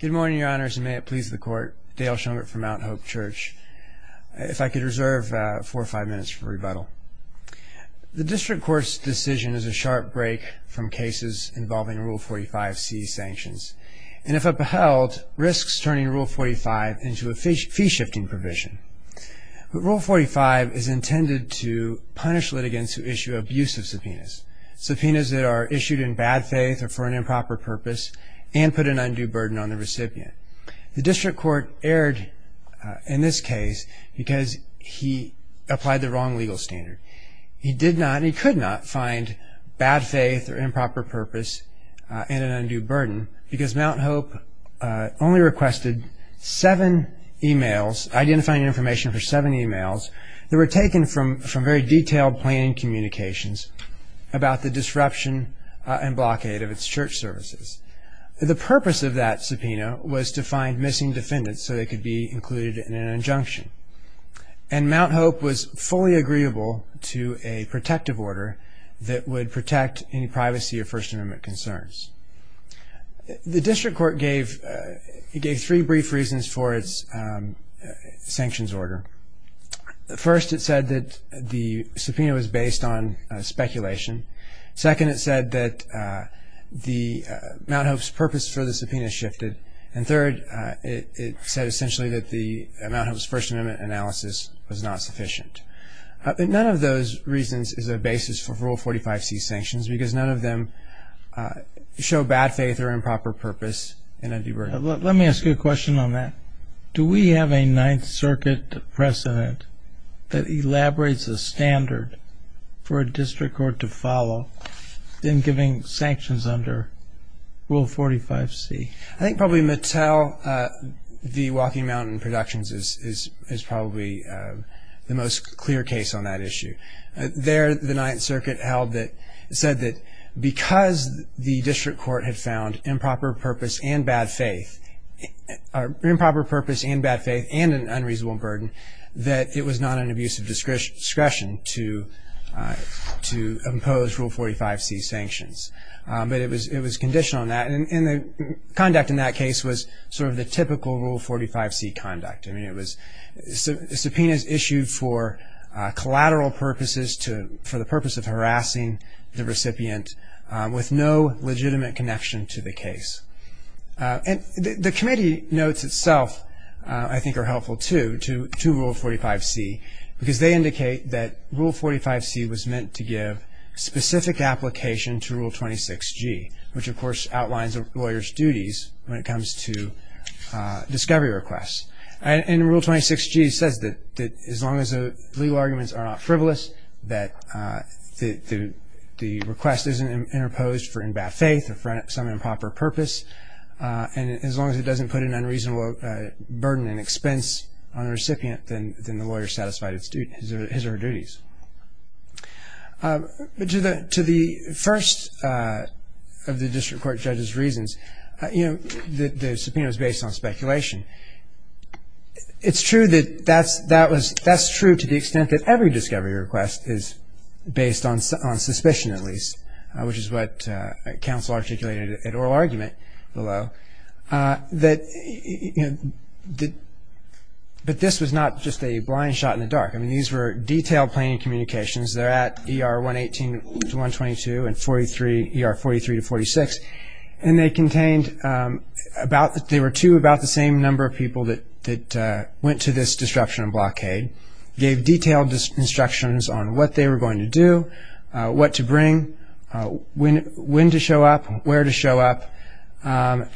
Good morning, Your Honors, and may it please the Court, Dale Shumgart from Mount Hope Church. If I could reserve four or five minutes for rebuttal. The District Court's decision is a sharp break from cases involving Rule 45C sanctions, and if upheld, risks turning Rule 45 into a fee-shifting provision. Rule 45 is intended to punish litigants who issue abusive subpoenas, subpoenas that are The District Court erred in this case because he applied the wrong legal standard. He did not, and he could not, find bad faith or improper purpose in an undue burden because Mount Hope only requested seven emails, identifying information for seven emails, that were taken from very detailed planning communications about the disruption and blockade of its church services. The purpose of that subpoena was to find missing defendants so they could be included in an injunction, and Mount Hope was fully agreeable to a protective order that would protect any privacy or First Amendment concerns. The District Court gave three brief reasons for its sanctions order. First, it said that the subpoena was based on speculation. Second, it said that Mount Hope's purpose for the subpoena shifted. And third, it said essentially that Mount Hope's First Amendment analysis was not sufficient. None of those reasons is a basis for Rule 45C sanctions because none of them show bad faith or improper purpose in an undue burden. Let me ask you a question on that. Do we have a Ninth Circuit precedent that elaborates a standard for a district court to follow in giving sanctions under Rule 45C? I think probably Mattel, the Walking Mountain Productions, is probably the most clear case on that issue. There, the Ninth Circuit held that, said that because the district court had found improper purpose and bad faith and an unreasonable burden, that it was not an abuse of discretion to impose Rule 45C sanctions, but it was conditioned on that, and the conduct in that case was sort of the typical Rule 45C conduct. I mean, it was subpoenas issued for collateral purposes, for the purpose of harassing the recipient with no legitimate connection to the case. And the committee notes itself I think are helpful too, to Rule 45C, because they indicate that Rule 45C was meant to give specific application to Rule 26G, which of course outlines a lawyer's duties when it comes to discovery requests. And Rule 26G says that as long as the legal arguments are not frivolous, that the request isn't interposed for bad faith or some improper purpose, and as long as it doesn't put an unreasonable burden and expense on the recipient, then the lawyer satisfies his or her duties. To the first of the district court judge's reasons, the subpoena was based on speculation. It's true that that's true to the extent that every discovery request is based on suspicion at least, which is what counsel articulated at oral argument below, but this was not just a blind shot in the dark. I mean, these were detailed planning communications. They're at ER 118-122 and 43, ER 43-46, and they contained about, they were to about the same number of people that went to this disruption and blockade, gave detailed instructions on what they were going to do, what to bring, when to show up, where to show up, and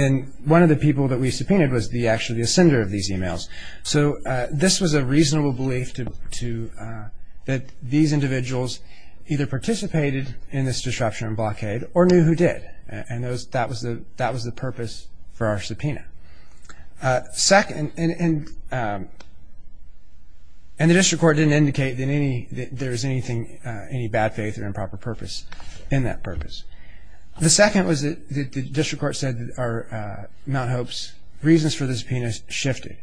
then one of the people that we subpoenaed was actually the sender of these emails. So this was a reasonable belief that these individuals either participated in this disruption and blockade or knew who did, and that was the purpose for our subpoena. And the district court didn't indicate that there was anything, any bad faith or improper purpose in that purpose. The second was that the district court said that Mount Hope's reasons for the subpoena shifted.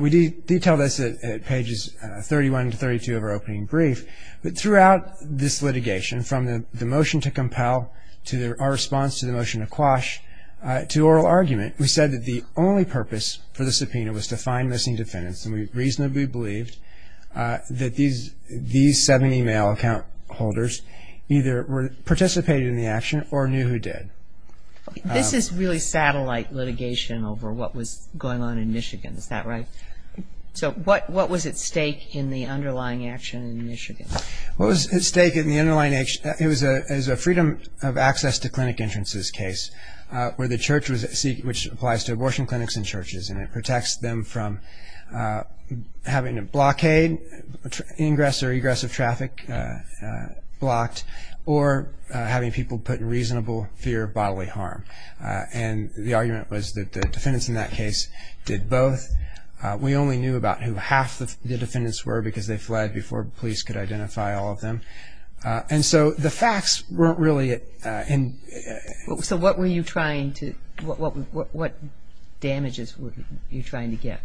We detailed this at pages 31 to 32 of our opening brief, but throughout this litigation, from the motion to compel, to our response to the motion to quash, to oral argument, we said that the only purpose for the subpoena was to find missing defendants, and we reasonably believed that these seven email account holders either participated in the action or knew who did. This is really satellite litigation over what was going on in Michigan, is that right? So what was at stake in the underlying action in Michigan? What was at stake in the underlying action, it was a freedom of access to clinic entrances case, where the church was, which applies to abortion clinics and churches, and it protects them from having a blockade, ingress or egress of traffic blocked, or having people put in reasonable fear of bodily harm. And the argument was that the defendants in that case did both. We only knew about who half the defendants were because they fled before police could identify all of them. And so the facts weren't really... So what were you trying to, what damages were you trying to get?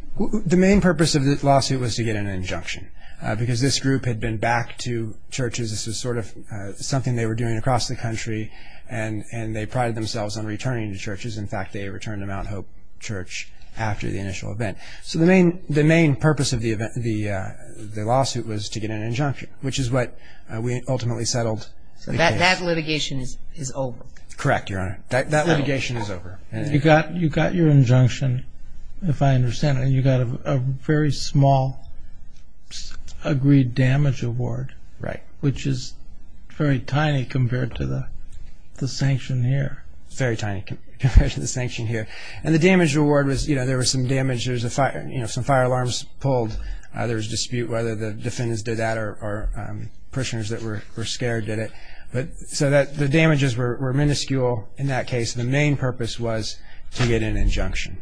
The main purpose of this lawsuit was to get an injunction, because this group had been back to churches, this was sort of something they were doing across the country, and they prided themselves on returning to churches, in fact they returned to Mount Hope Church after the initial event. So the main purpose of the lawsuit was to get an injunction, which is what we ultimately settled the case. So that litigation is over? Correct, Your Honor. That litigation is over. You got your injunction, if I understand it, and you got a very small agreed damage award, which is very tiny compared to the sanction here. Very tiny compared to the sanction here. And the damage award was, you know, there was some damage, there was a fire, you know, some fire alarms pulled, there was dispute whether the defendants did that or prisoners that were scared did it. So the damages were minuscule in that case, the main purpose was to get an injunction.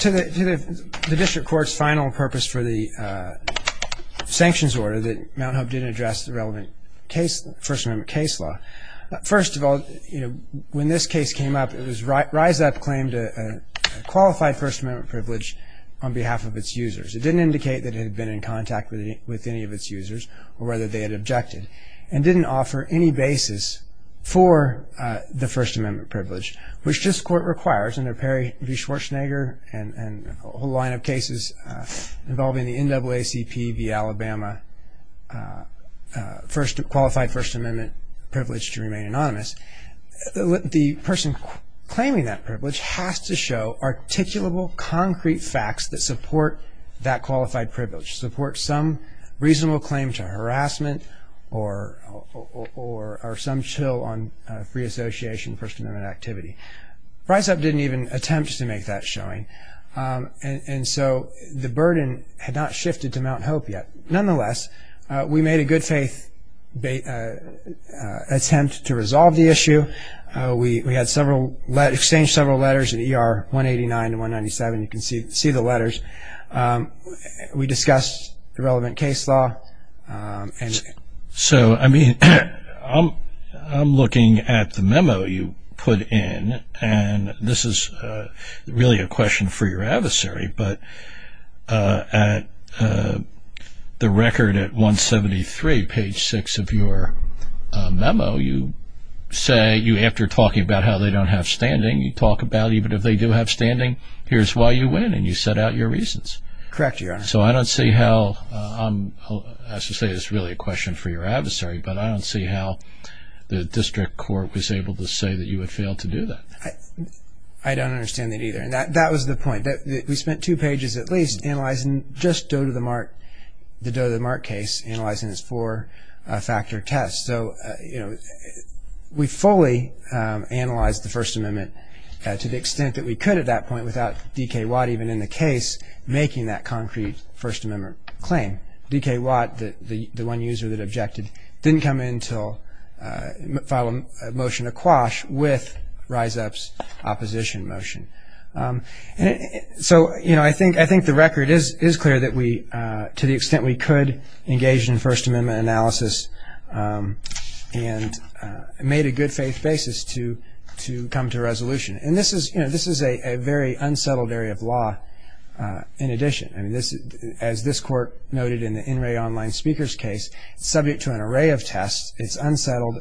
To the district court's final purpose for the sanctions order that Mount Hope didn't address the relevant First Amendment case law, first of all, when this case came up, it was Rise Up claimed a qualified First Amendment privilege on behalf of its users. It didn't indicate that it had been in contact with any of its users or whether they had objected and didn't offer any basis for the First Amendment privilege, which this court requires under Perry v. Schwarzenegger and a whole line of cases involving the NAACP v. Alabama qualified First Amendment privilege to remain anonymous. The person claiming that privilege has to show articulable, concrete facts that support that qualified privilege, support some reasonable claim to harassment or some chill on free association First Amendment activity. Rise Up didn't even attempt to make that showing and so the burden had not shifted to Mount Hope yet. Nonetheless, we made a good faith attempt to resolve the issue. We had several, exchanged several letters in ER 189 and 197, you can see the letters. We discussed the relevant case law. So I mean, I'm looking at the memo you put in and this is really a question for your adversary. At the record at 173, page 6 of your memo, you say, after talking about how they don't have standing, you talk about even if they do have standing, here's why you win and you set out your reasons. Correct, Your Honor. So I don't see how, as I say, it's really a question for your adversary, but I don't see how the district court was able to say that you had failed to do that. I don't understand that either and that was the point. We spent two pages, at least, analyzing just the Doe to the Mark case, analyzing its four factor test. So we fully analyzed the First Amendment to the extent that we could at that point without D.K. Watt even in the case making that concrete First Amendment claim. D.K. Watt, the one user that objected, didn't come in to file a motion to quash with Rise Up's opposition motion. So I think the record is clear that we, to the extent we could, engaged in First Amendment analysis and made a good faith basis to come to resolution. And this is a very unsettled area of law in addition. As this court noted in the In Re Online Speakers case, subject to an array of tests, it's unsettled,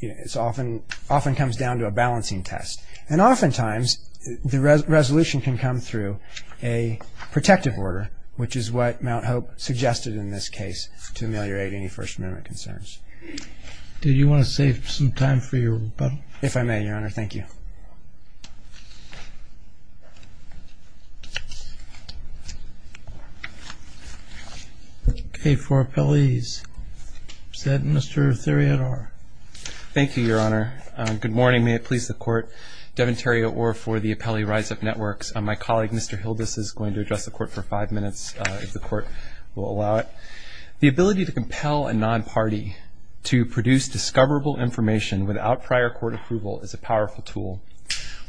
it often comes down to a balancing test. And oftentimes the resolution can come through a protective order, which is what Mount Hope suggested in this case to ameliorate any First Amendment concerns. Do you want to save some time for your rebuttal? If I may, Your Honor, thank you. Okay, for appellees, is that Mr. Theriot-Orr? Thank you, Your Honor. Good morning. May it please the Court, Devin Theriot-Orr for the Appellee Rise Up Networks. My colleague, Mr. Hildes, is going to address the Court for five minutes, if the Court will allow it. The ability to compel a non-party to produce discoverable information without prior court approval is a powerful tool.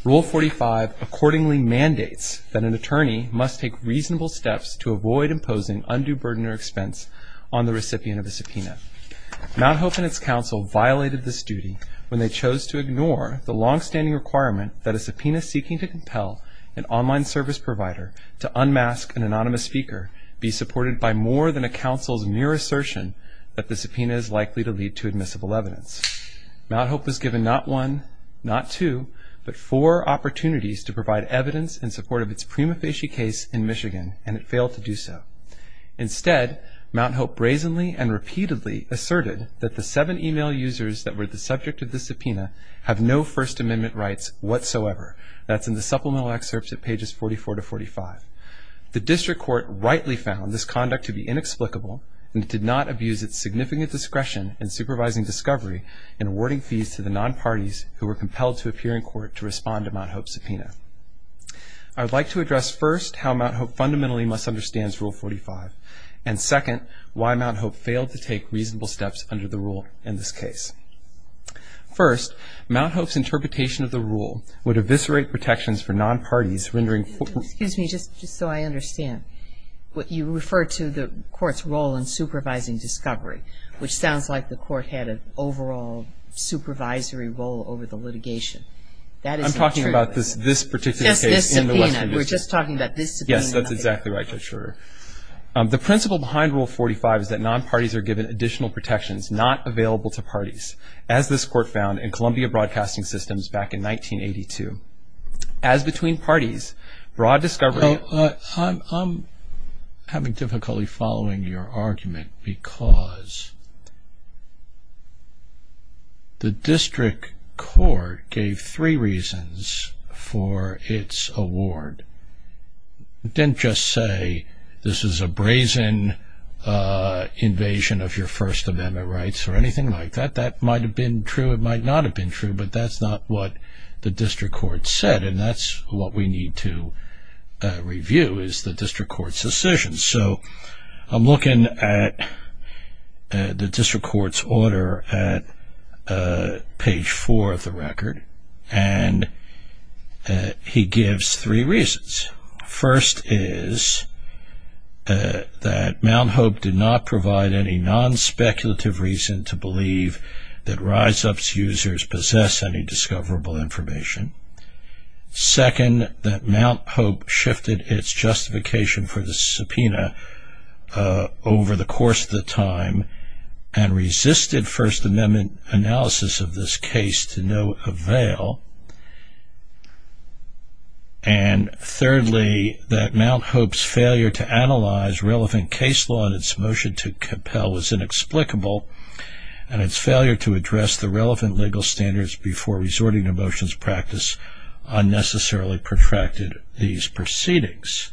Rule 45 accordingly mandates that an attorney must take reasonable steps to avoid imposing undue burden or expense on the recipient of a subpoena. Mount Hope and its counsel violated this duty when they chose to ignore the longstanding requirement that a subpoena seeking to compel an online service provider to unmask an anonymous speaker be supported by more than a counsel's mere assertion that the subpoena is likely to lead to admissible evidence. Mount Hope was given not one, not two, but four opportunities to provide evidence in support of its prima facie case in Michigan, and it failed to do so. Instead, Mount Hope brazenly and repeatedly asserted that the seven e-mail users that were the subject of the subpoena have no First Amendment rights whatsoever. That's in the supplemental excerpts at pages 44 to 45. The district court rightly found this conduct to be inexplicable, and it did not abuse its significant discretion in supervising discovery and awarding fees to the non-parties who were compelled to appear in court to respond to Mount Hope's subpoena. I would like to address first how Mount Hope fundamentally misunderstands Rule 45, and second, why Mount Hope failed to take reasonable steps under the rule in this case. First, Mount Hope's interpretation of the rule would eviscerate protections for non-parties rendering... Excuse me, just so I understand. You refer to the court's role in supervising discovery, which sounds like the court had an overall supervisory role over the litigation. That isn't true. I'm talking about this particular case. Just this subpoena. We're just talking about this subpoena. Yes, that's exactly right, Judge Schroeder. The principle behind Rule 45 is that non-parties are given additional protections not available to parties, as this court found in Columbia Broadcasting Systems back in 1982. As between parties, broad discovery... I'm having difficulty following your argument because the district court gave three reasons for its award. It didn't just say, this is a brazen invasion of your First Amendment rights or anything like that. That might have been true. It might not have been true, but that's not what the district court said. That's what we need to review, is the district court's decision. I'm looking at the district court's order at page four of the record. He gives three reasons. First is that Mount Hope did not provide any non-speculative reason to believe that rise ups users possess any discoverable information. Second, that Mount Hope shifted its justification for the subpoena over the course of the time and resisted First Amendment analysis of this case to no avail. And thirdly, that Mount Hope's failure to analyze relevant case law and its motion to relevant legal standards before resorting to motions of practice unnecessarily protracted these proceedings.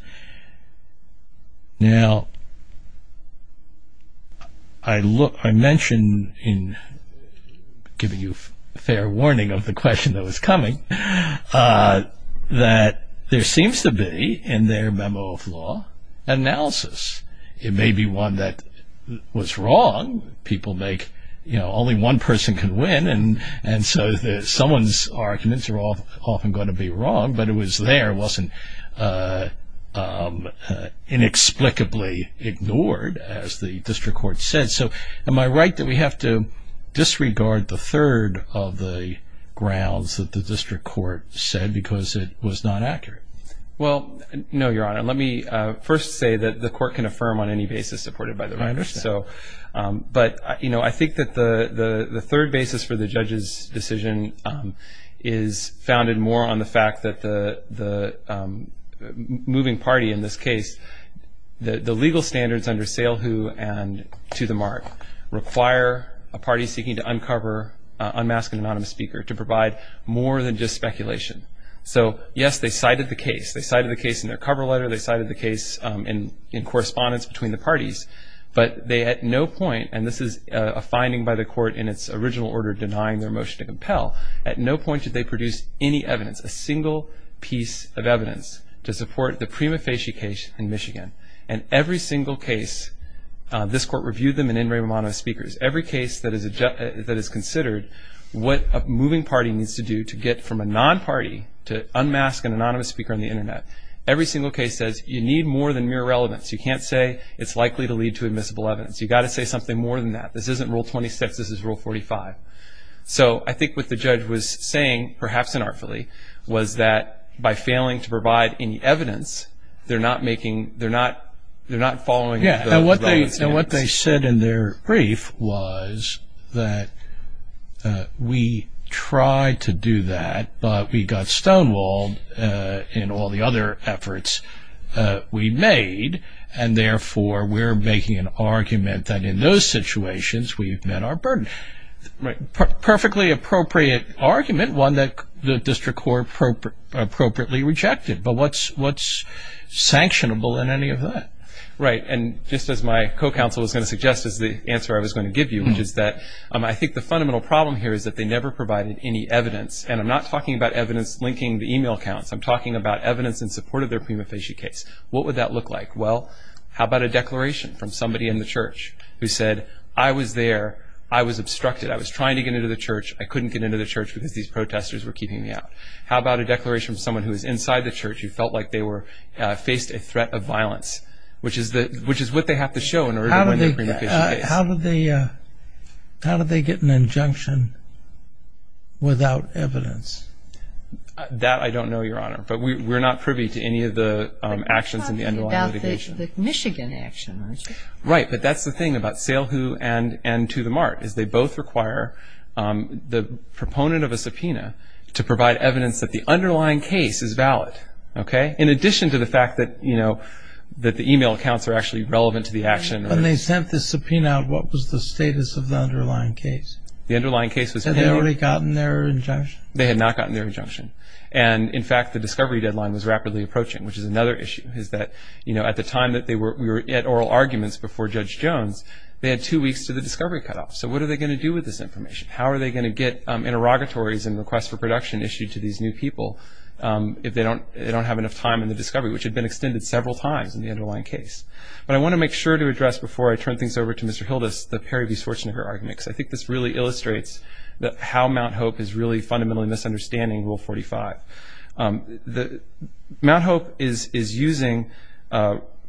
Now, I mentioned in giving you fair warning of the question that was coming, that there seems to be in their memo of law analysis. It may be one that was wrong. People make, you know, only one person can win, and so someone's arguments are often going to be wrong. But it was there. It wasn't inexplicably ignored, as the district court said. So am I right that we have to disregard the third of the grounds that the district court said because it was not accurate? Well, no, Your Honor. Let me first say that the court can affirm on any basis supported by the writers. But, you know, I think that the third basis for the judge's decision is founded more on the fact that the moving party in this case, the legal standards under Salehu and To The Mark require a party seeking to unmask an anonymous speaker to provide more than just speculation. So, yes, they cited the case. They cited the case in their cover letter. They cited the case in correspondence between the parties. But they at no point, and this is a finding by the court in its original order denying their motion to compel, at no point did they produce any evidence, a single piece of evidence to support the Prima Facie case in Michigan. And every single case, this court reviewed them in in-ring with anonymous speakers. Every case that is considered what a moving party needs to do to get from a non-party to unmask an anonymous speaker on the Internet, every single case says you need more than mere relevance. You can't say it's likely to lead to admissible evidence. You've got to say something more than that. This isn't Rule 26. This is Rule 45. So, I think what the judge was saying, perhaps unartfully, was that by failing to provide any evidence, they're not making, they're not, they're not following the relevance. And what they said in their brief was that we tried to do that, but we got stonewalled in all the other efforts we made. And therefore, we're making an argument that in those situations, we've met our burden. Perfectly appropriate argument, one that the district court appropriately rejected. But what's sanctionable in any of that? Right. And just as my co-counsel was going to suggest is the answer I was going to give you, which is that I think the fundamental problem here is that they never provided any evidence. And I'm not talking about evidence linking the email accounts. I'm talking about evidence in support of their prima facie case. What would that look like? Well, how about a declaration from somebody in the church who said, I was there. I was obstructed. I was trying to get into the church. I couldn't get into the church because these protesters were keeping me out. How about a declaration from someone who was inside the church who felt like they were, faced a threat of violence? Which is what they have to show in order to win their prima facie case. How did they get an injunction without evidence? That I don't know, Your Honor. But we're not privy to any of the actions in the underlying litigation. But you're talking about the Michigan action, aren't you? Right. But that's the thing about Salehu and To The Mart, is they both require the proponent of a subpoena to provide evidence that the underlying case is valid. In addition to the fact that the email accounts are actually relevant to the action. When they sent the subpoena out, what was the status of the underlying case? The underlying case was clear. Had they already gotten their injunction? They had not gotten their injunction. And in fact, the discovery deadline was rapidly approaching, which is another issue, is that at the time that we were at oral arguments before Judge Jones, they had two weeks to the discovery cutoff. So what are they going to do with this information? How are they going to get interrogatories and requests for production issued to these new people if they don't have enough time in the discovery, which had been extended several times in the underlying case? But I want to make sure to address before I turn things over to Mr. Hildas, the Perry v. Schwarzenegger argument, because I think this really illustrates how Mount Hope is really fundamentally misunderstanding Rule 45. Mount Hope is using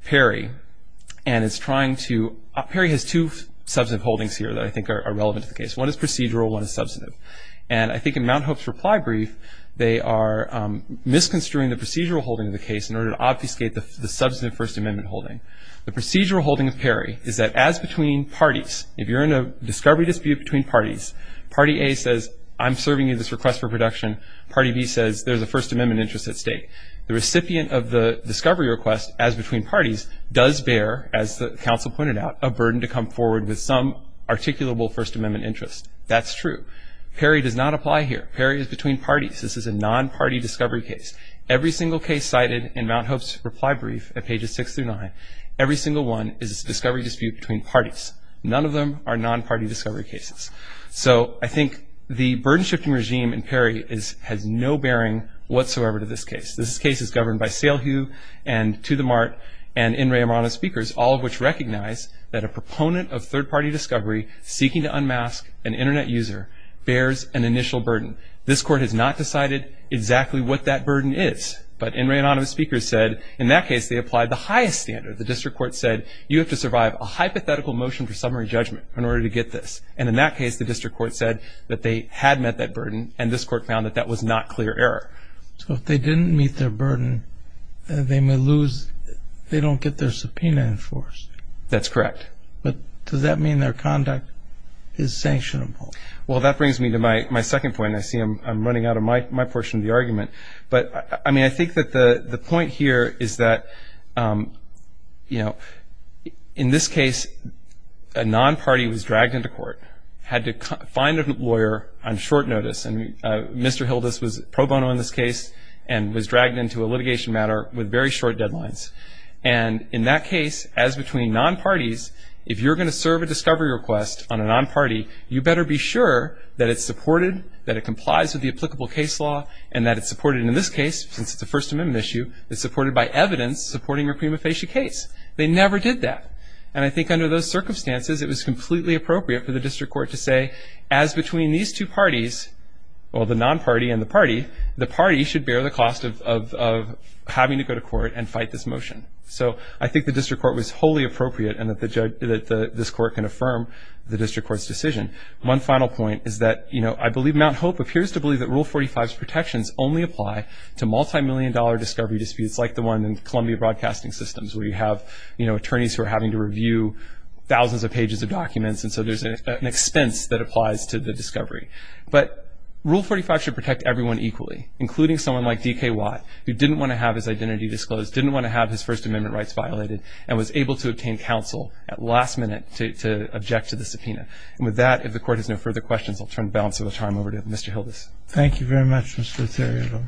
Perry and is trying to – Perry has two substantive holdings here that I think are relevant to the case. One is procedural. One is substantive. And I think in Mount Hope's reply brief, they are misconstruing the procedural holding of the case in order to obfuscate the substantive First Amendment holding. The procedural holding of Perry is that as between parties, if you're in a discovery dispute between parties, party A says, I'm serving you this request for production. Party B says, there's a First Amendment interest at stake. The recipient of the discovery request as between parties does bear, as the counsel pointed out, a burden to come forward with some articulable First Amendment interest. That's true. Perry does not apply here. Perry is between parties. This is a non-party discovery case. Every single case cited in Mount Hope's reply brief at pages 6 through 9, every single one is a discovery dispute between parties. None of them are non-party discovery cases. So I think the burden-shifting regime in Perry is – has no bearing whatsoever to this case. This case is governed by Salehue and To the Mart and N. Ray Amrano speakers, all of which recognize that a proponent of third-party discovery seeking to unmask an Internet user bears an initial burden. This court has not decided exactly what that burden is. But N. Ray Amrano speakers said, in that case, they applied the highest standard. The district court said, you have to survive a hypothetical motion for summary judgment in order to get this. And in that case, the district court said that they had met that burden, and this court found that that was not clear error. So if they didn't meet their burden, they may lose – they don't get their subpoena enforced. That's correct. But does that mean their conduct is sanctionable? Well, that brings me to my second point, and I see I'm running out of my portion of the argument. But, I mean, I think that the point here is that, you know, in this case, a non-party was dragged into court, had to find a lawyer on short notice, and Mr. Hildas was pro bono in this case and was dragged into a litigation matter with very short deadlines. And in that case, as between non-parties, if you're going to serve a discovery request on a non-party, you better be sure that it's supported, that it complies with the applicable case law, and that it's supported in this case, since it's a First Amendment issue, it's supported by evidence supporting your prima facie case. They never did that. And I think under those circumstances, it was completely appropriate for the district court to say, as between these two parties, well, the non-party and the party, the party should bear the cost of having to go to court and fight this motion. So I think the district court was wholly appropriate and that this court can affirm the district court's decision. One final point is that, you know, I believe Mount Hope appears to believe that Rule 45's protections only apply to multimillion-dollar discovery disputes like the one in Columbia Broadcasting Systems, where you have, you know, attorneys who are having to review thousands of pages of documents, and so there's an expense that applies to the discovery. But Rule 45 should protect everyone equally, including someone like D.K. Watt, who didn't want to have his identity disclosed, didn't want to have his First Amendment rights violated, and was able to obtain counsel at last minute to object to the subpoena. And with that, if the court has no further questions, I'll turn the balance of the time over to Mr. Hildas. Thank you very much, Mr. Theriault.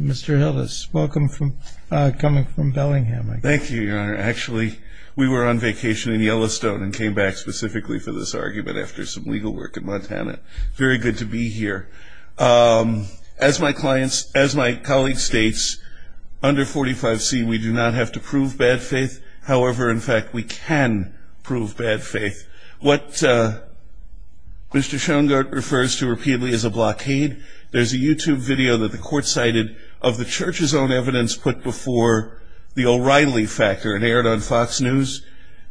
Mr. Hildas, welcome from, coming from Bellingham, I guess. Thank you, Your Honor. Actually, we were on vacation in Yellowstone and came back specifically for this argument after some legal work in Montana. Very good to be here. As my clients, as my colleague states, under 45C, we do not have to prove bad faith. However, in fact, we can prove bad faith. What Mr. Schoengart refers to repeatedly as a blockade, there's a YouTube video that the court cited of the church's own evidence put before the O'Reilly factor and aired on Fox News.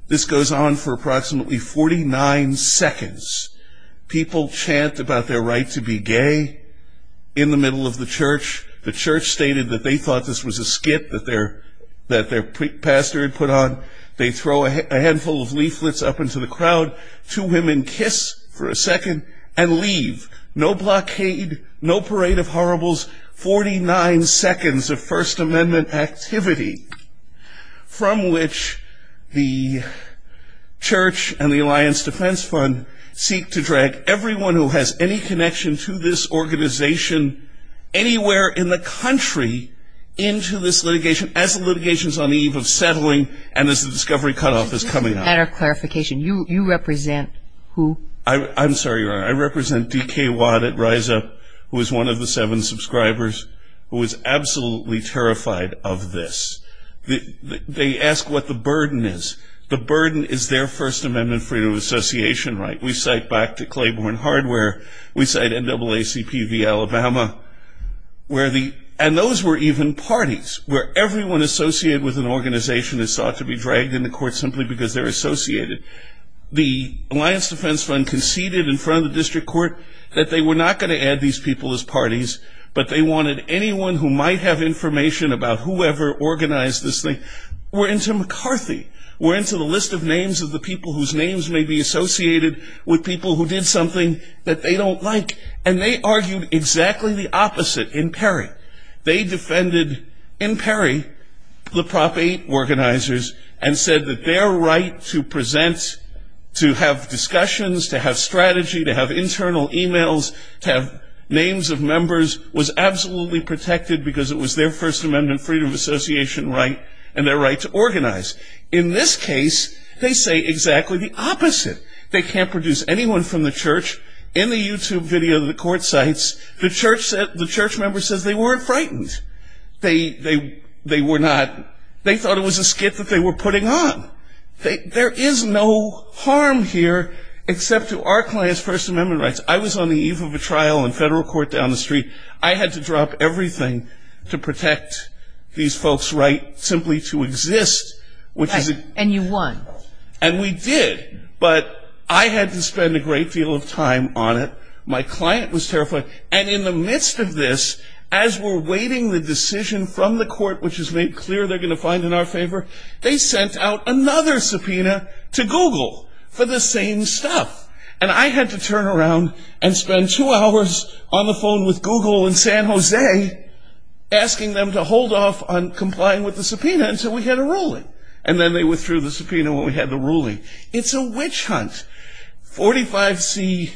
This goes on for approximately 49 seconds. People chant about their right to be gay in the middle of the church. The church stated that they thought this was a skit that their pastor had put on. They throw a handful of leaflets up into the crowd. Two women kiss for a second and leave. No blockade, no parade of horribles, 49 seconds of First Amendment activity. From which the church and the Alliance Defense Fund seek to drag everyone who has any connection to this organization anywhere in the country into this litigation as the litigation is on the eve of settling and as the discovery cutoff is coming up. Just a matter of clarification, you represent who? I'm sorry, Your Honor. I represent D.K. Watt at Rise Up, who is one of the seven subscribers, who is absolutely terrified of this. They ask what the burden is. The burden is their First Amendment Freedom of Association right. We cite back to Claiborne Hardware. We cite NAACP v. Alabama. And those were even parties where everyone associated with an organization is thought to be dragged into court simply because they're associated. The Alliance Defense Fund conceded in front of the district court that they were not going to add these people as parties, but they wanted anyone who might have information about whoever organized this thing were into McCarthy, were into the list of names of the people whose names may be associated with people who did something that they don't like. And they argued exactly the opposite in Perry. They defended, in Perry, the Prop 8 organizers and said that their right to present, to have names of members was absolutely protected because it was their First Amendment Freedom of Association right and their right to organize. In this case, they say exactly the opposite. They can't produce anyone from the church. In the YouTube video that the court cites, the church member says they weren't frightened. They thought it was a skit that they were putting on. There is no harm here except to our class First Amendment rights. I was on the eve of a trial in federal court down the street. I had to drop everything to protect these folks' right simply to exist, which is a Right, and you won. And we did, but I had to spend a great deal of time on it. My client was terrified. And in the midst of this, as we're waiting the decision from the court, which is made clear they're going to find in our favor, they sent out another subpoena to Google for the same stuff. And I had to turn around and spend two hours on the phone with Google in San Jose asking them to hold off on complying with the subpoena until we had a ruling. And then they withdrew the subpoena when we had the ruling. It's a witch hunt. 45C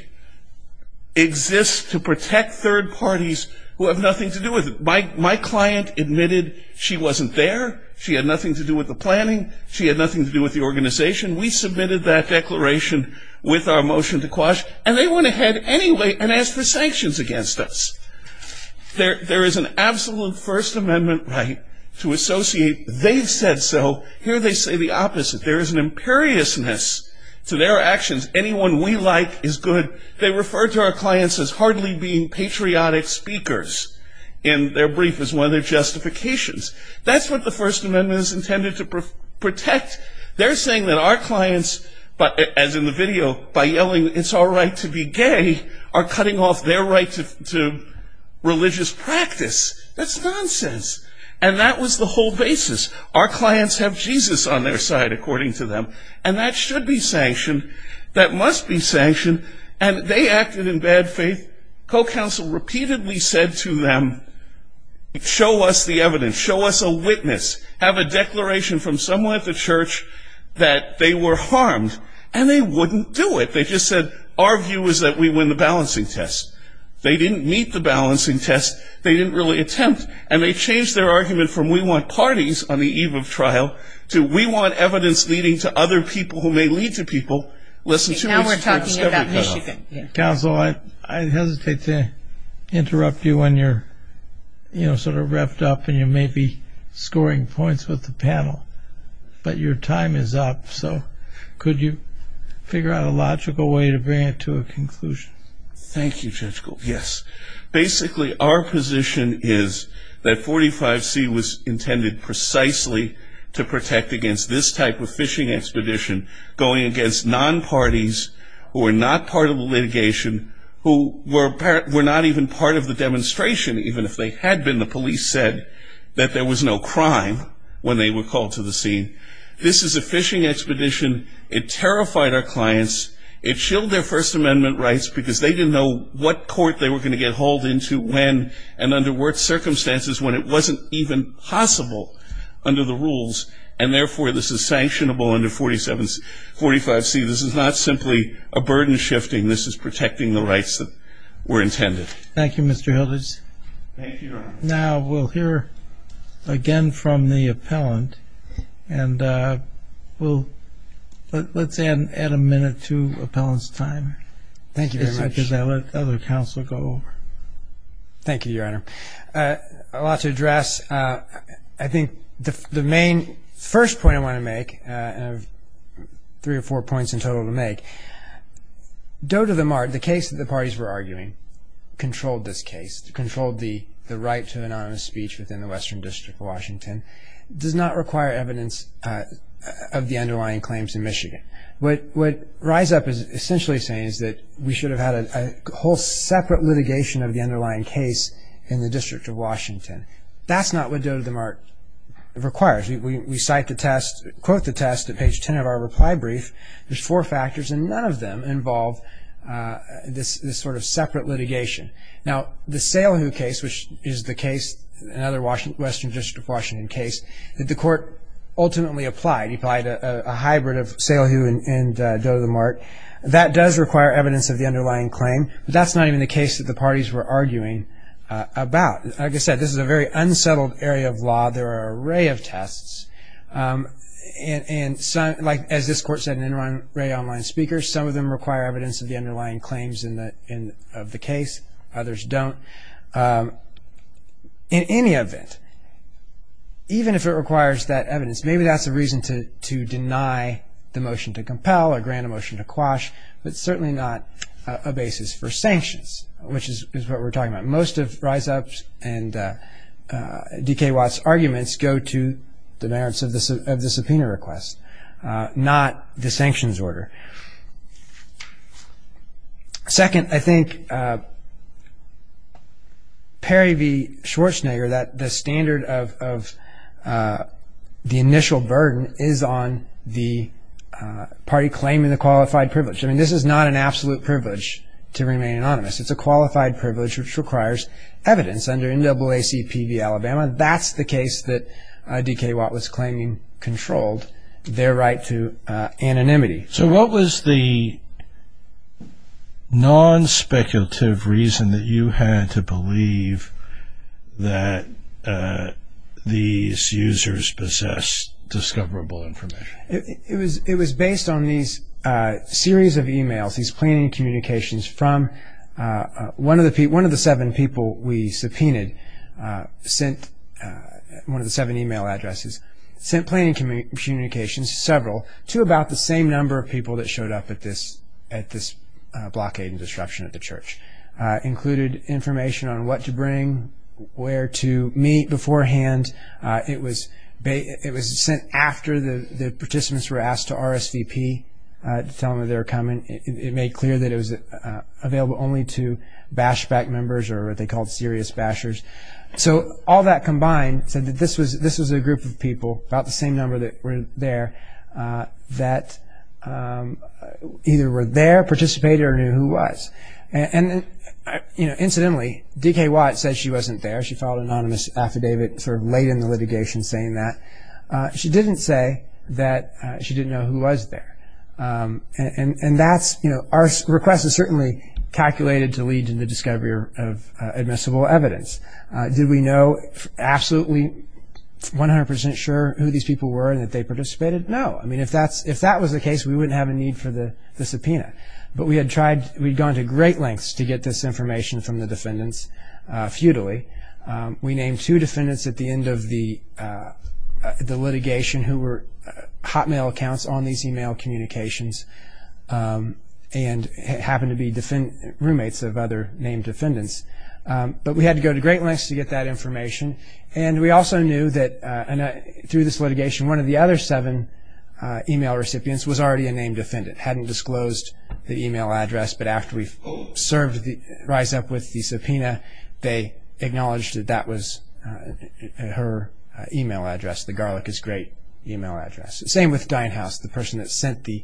exists to protect third parties who have nothing to do with it. My client admitted she wasn't there. She had nothing to do with the planning. She had nothing to do with the organization. We submitted that declaration with our motion to quash, and they went ahead anyway and asked for sanctions against us. There is an absolute First Amendment right to associate they've said so, here they say the opposite. There is an imperiousness to their actions. Anyone we like is good. They refer to our clients as hardly being patriotic speakers, and their brief is one of their justifications. That's what the First Amendment is intended to protect. They're saying that our clients, as in the video, by yelling, it's all right to be gay, are cutting off their right to religious practice. That's nonsense. And that was the whole basis. Our clients have Jesus on their side, according to them. And that should be sanctioned. That must be sanctioned. And they acted in bad faith. Co-counsel repeatedly said to them, show us the evidence. Show us a witness. Have a declaration from someone at the church that they were harmed. And they wouldn't do it. They just said, our view is that we win the balancing test. They didn't meet the balancing test. They didn't really attempt. And they changed their argument from, we want parties on the eve of trial, to, we want evidence leading to other people who may lead to people. Listen to us. Now we're talking about Michigan. Counsel, I hesitate to interrupt you when you're sort of revved up and you may be scoring points with the panel, but your time is up. So could you figure out a logical way to bring it to a conclusion? Thank you, Judge Gould. Yes. Basically, our position is that 45C was intended precisely to protect against this type of fishing expedition, going against non-parties who are not part of the litigation, who were not even part of the demonstration, even if they had been. The police said that there was no crime when they were called to the scene. This is a fishing expedition. It terrified our clients. It chilled their First Amendment rights because they didn't know what court they were going to get hauled into when, and under what circumstances, when it wasn't even possible under the rules. And therefore, this is sanctionable under 47, 45C. This is not simply a burden shifting. This is protecting the rights that were intended. Thank you, Mr. Hildes. Thank you, Your Honor. Now, we'll hear again from the appellant. And we'll, let's add a minute to appellant's time. Thank you very much. Because I'll let the other counsel go over. Thank you, Your Honor. A lot to address. I think the main first point I want to make, and I have three or four points in total to make, Doe to the Mart, the case that the parties were arguing controlled this case, controlled the right to anonymous speech within the Western District of Washington, does not require evidence of the underlying claims in Michigan. What Rise Up is essentially saying is that we should have had a whole separate litigation of the underlying case in the District of Washington. That's not what Doe to the Mart requires. We cite the test, quote the test at page ten of our reply brief. There's four factors, and none of them involve this sort of separate litigation. Now, the Salehu case, which is the case, another Western District of Washington case, that the court ultimately applied, applied a hybrid of Salehu and Doe to the Mart. That does require evidence of the underlying claim. But that's not even the case that the parties were arguing about. Like I said, this is a very unsettled area of law. There are an array of tests. And some, like, as this court said, an array of online speakers. Some of them require evidence of the underlying claims in the, in, of the case. Others don't. In any event, even if it requires that evidence, maybe that's a reason to, to deny the motion to compel or grant a motion to quash. But certainly not a basis for sanctions, which is, is what we're talking about. Most of Rise Up's and DK Watt's arguments go to the merits of the, of the subpoena request, not the sanctions order. Second, I think Perry v. Schwarzenegger, that the standard of, of the initial burden is on the party claiming the qualified privilege, I mean, this is not an absolute privilege to remain anonymous. It's a qualified privilege which requires evidence under NAACP v. Alabama. That's the case that DK Watt was claiming controlled their right to anonymity. So what was the non-speculative reason that you had to believe that these users possessed discoverable information? It, it was, it was based on these series of emails, these planning communications from one of the people, one of the seven people we subpoenaed, sent one of the seven email addresses, sent planning communications to several, to about the same number of people that showed up at this, at this blockade and disruption at the church. Included information on what to bring, where to meet beforehand. It was, it was sent after the, the participants were asked to RSVP. To tell them that they were coming. It, it made clear that it was available only to bashback members or what they called serious bashers. So all that combined said that this was, this was a group of people, about the same number that were there that either were there, participated or knew who was. And, and, you know, incidentally, DK Watt said she wasn't there. She filed an anonymous affidavit sort of late in the litigation saying that. She didn't say that she didn't know who was there. And, and, and that's, you know, our request is certainly calculated to lead to the discovery of admissible evidence. Did we know absolutely 100% sure who these people were and that they participated? No. I mean, if that's, if that was the case, we wouldn't have a need for the, the subpoena. But we had tried, we'd gone to great lengths to get this information from the defendants futilely. We named two defendants at the end of the the litigation who were hotmail accounts on these email communications. And happened to be defend, roommates of other named defendants. But we had to go to great lengths to get that information. And we also knew that through this litigation, one of the other seven email recipients was already a named defendant. Hadn't disclosed the email address, but after we served the, rise up with the subpoena, they acknowledged that that was her email address. The garlic is great email address. Same with Dinehouse, the person that sent the,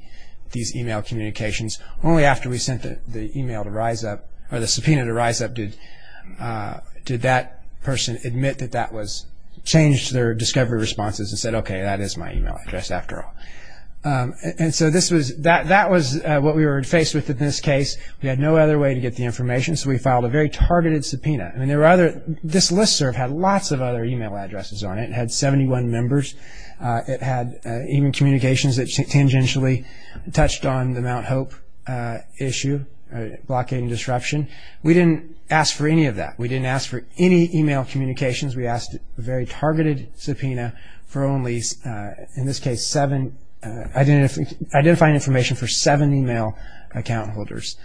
these email communications. Only after we sent the, the email to rise up, or the subpoena to rise up, did did that person admit that that was, changed their discovery responses and said, okay, that is my email address after all. And, and so this was, that, that was what we were faced with in this case. We had no other way to get the information. So we filed a very targeted subpoena. I mean, there were other, this listserv had lots of other email addresses on it. It had 71 members. It had even communications that tangentially touched on the Mount Hope issue, blockade and disruption. We didn't ask for any of that. We didn't ask for any email communications. We asked a very targeted subpoena for only, in this case, seven identifying, identifying information for seven email account holders.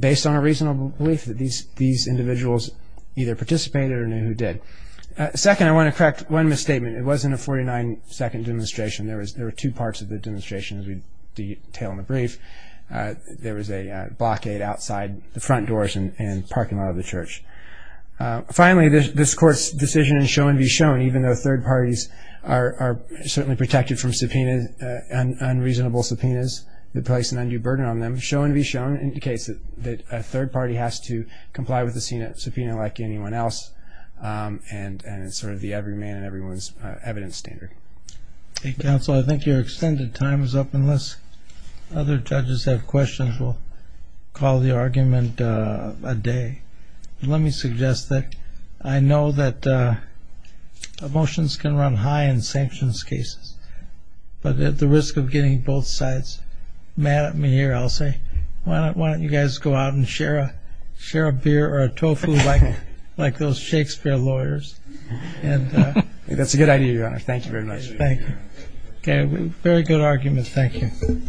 Based on a reasonable belief that these, these individuals either participated or knew who did. Second, I want to correct one misstatement. It wasn't a 49 second demonstration. There was, there were two parts of the demonstration, as we detail in the brief. There was a blockade outside the front doors and, and parking lot of the church. Finally, this, this court's decision is show and be shown, even though third parties are, are certainly protected from subpoenas, unreasonable subpoenas. They place an undue burden on them. Show and be shown indicates that, that a third party has to comply with the subpoena like anyone else and, and it's sort of the everyman and everyone's evidence standard. Hey counsel, I think your extended time is up unless other judges have questions. We'll call the argument a day. Let me suggest that I know that motions can run high in sanctions cases. But at the risk of getting both sides mad at me here, I'll say, why don't, why don't you guys go out and share a, share a beer or a tofu like, like those Shakespeare lawyers. And. That's a good idea, your honor. Thank you very much. Thank you. Okay. Very good argument. Thank you.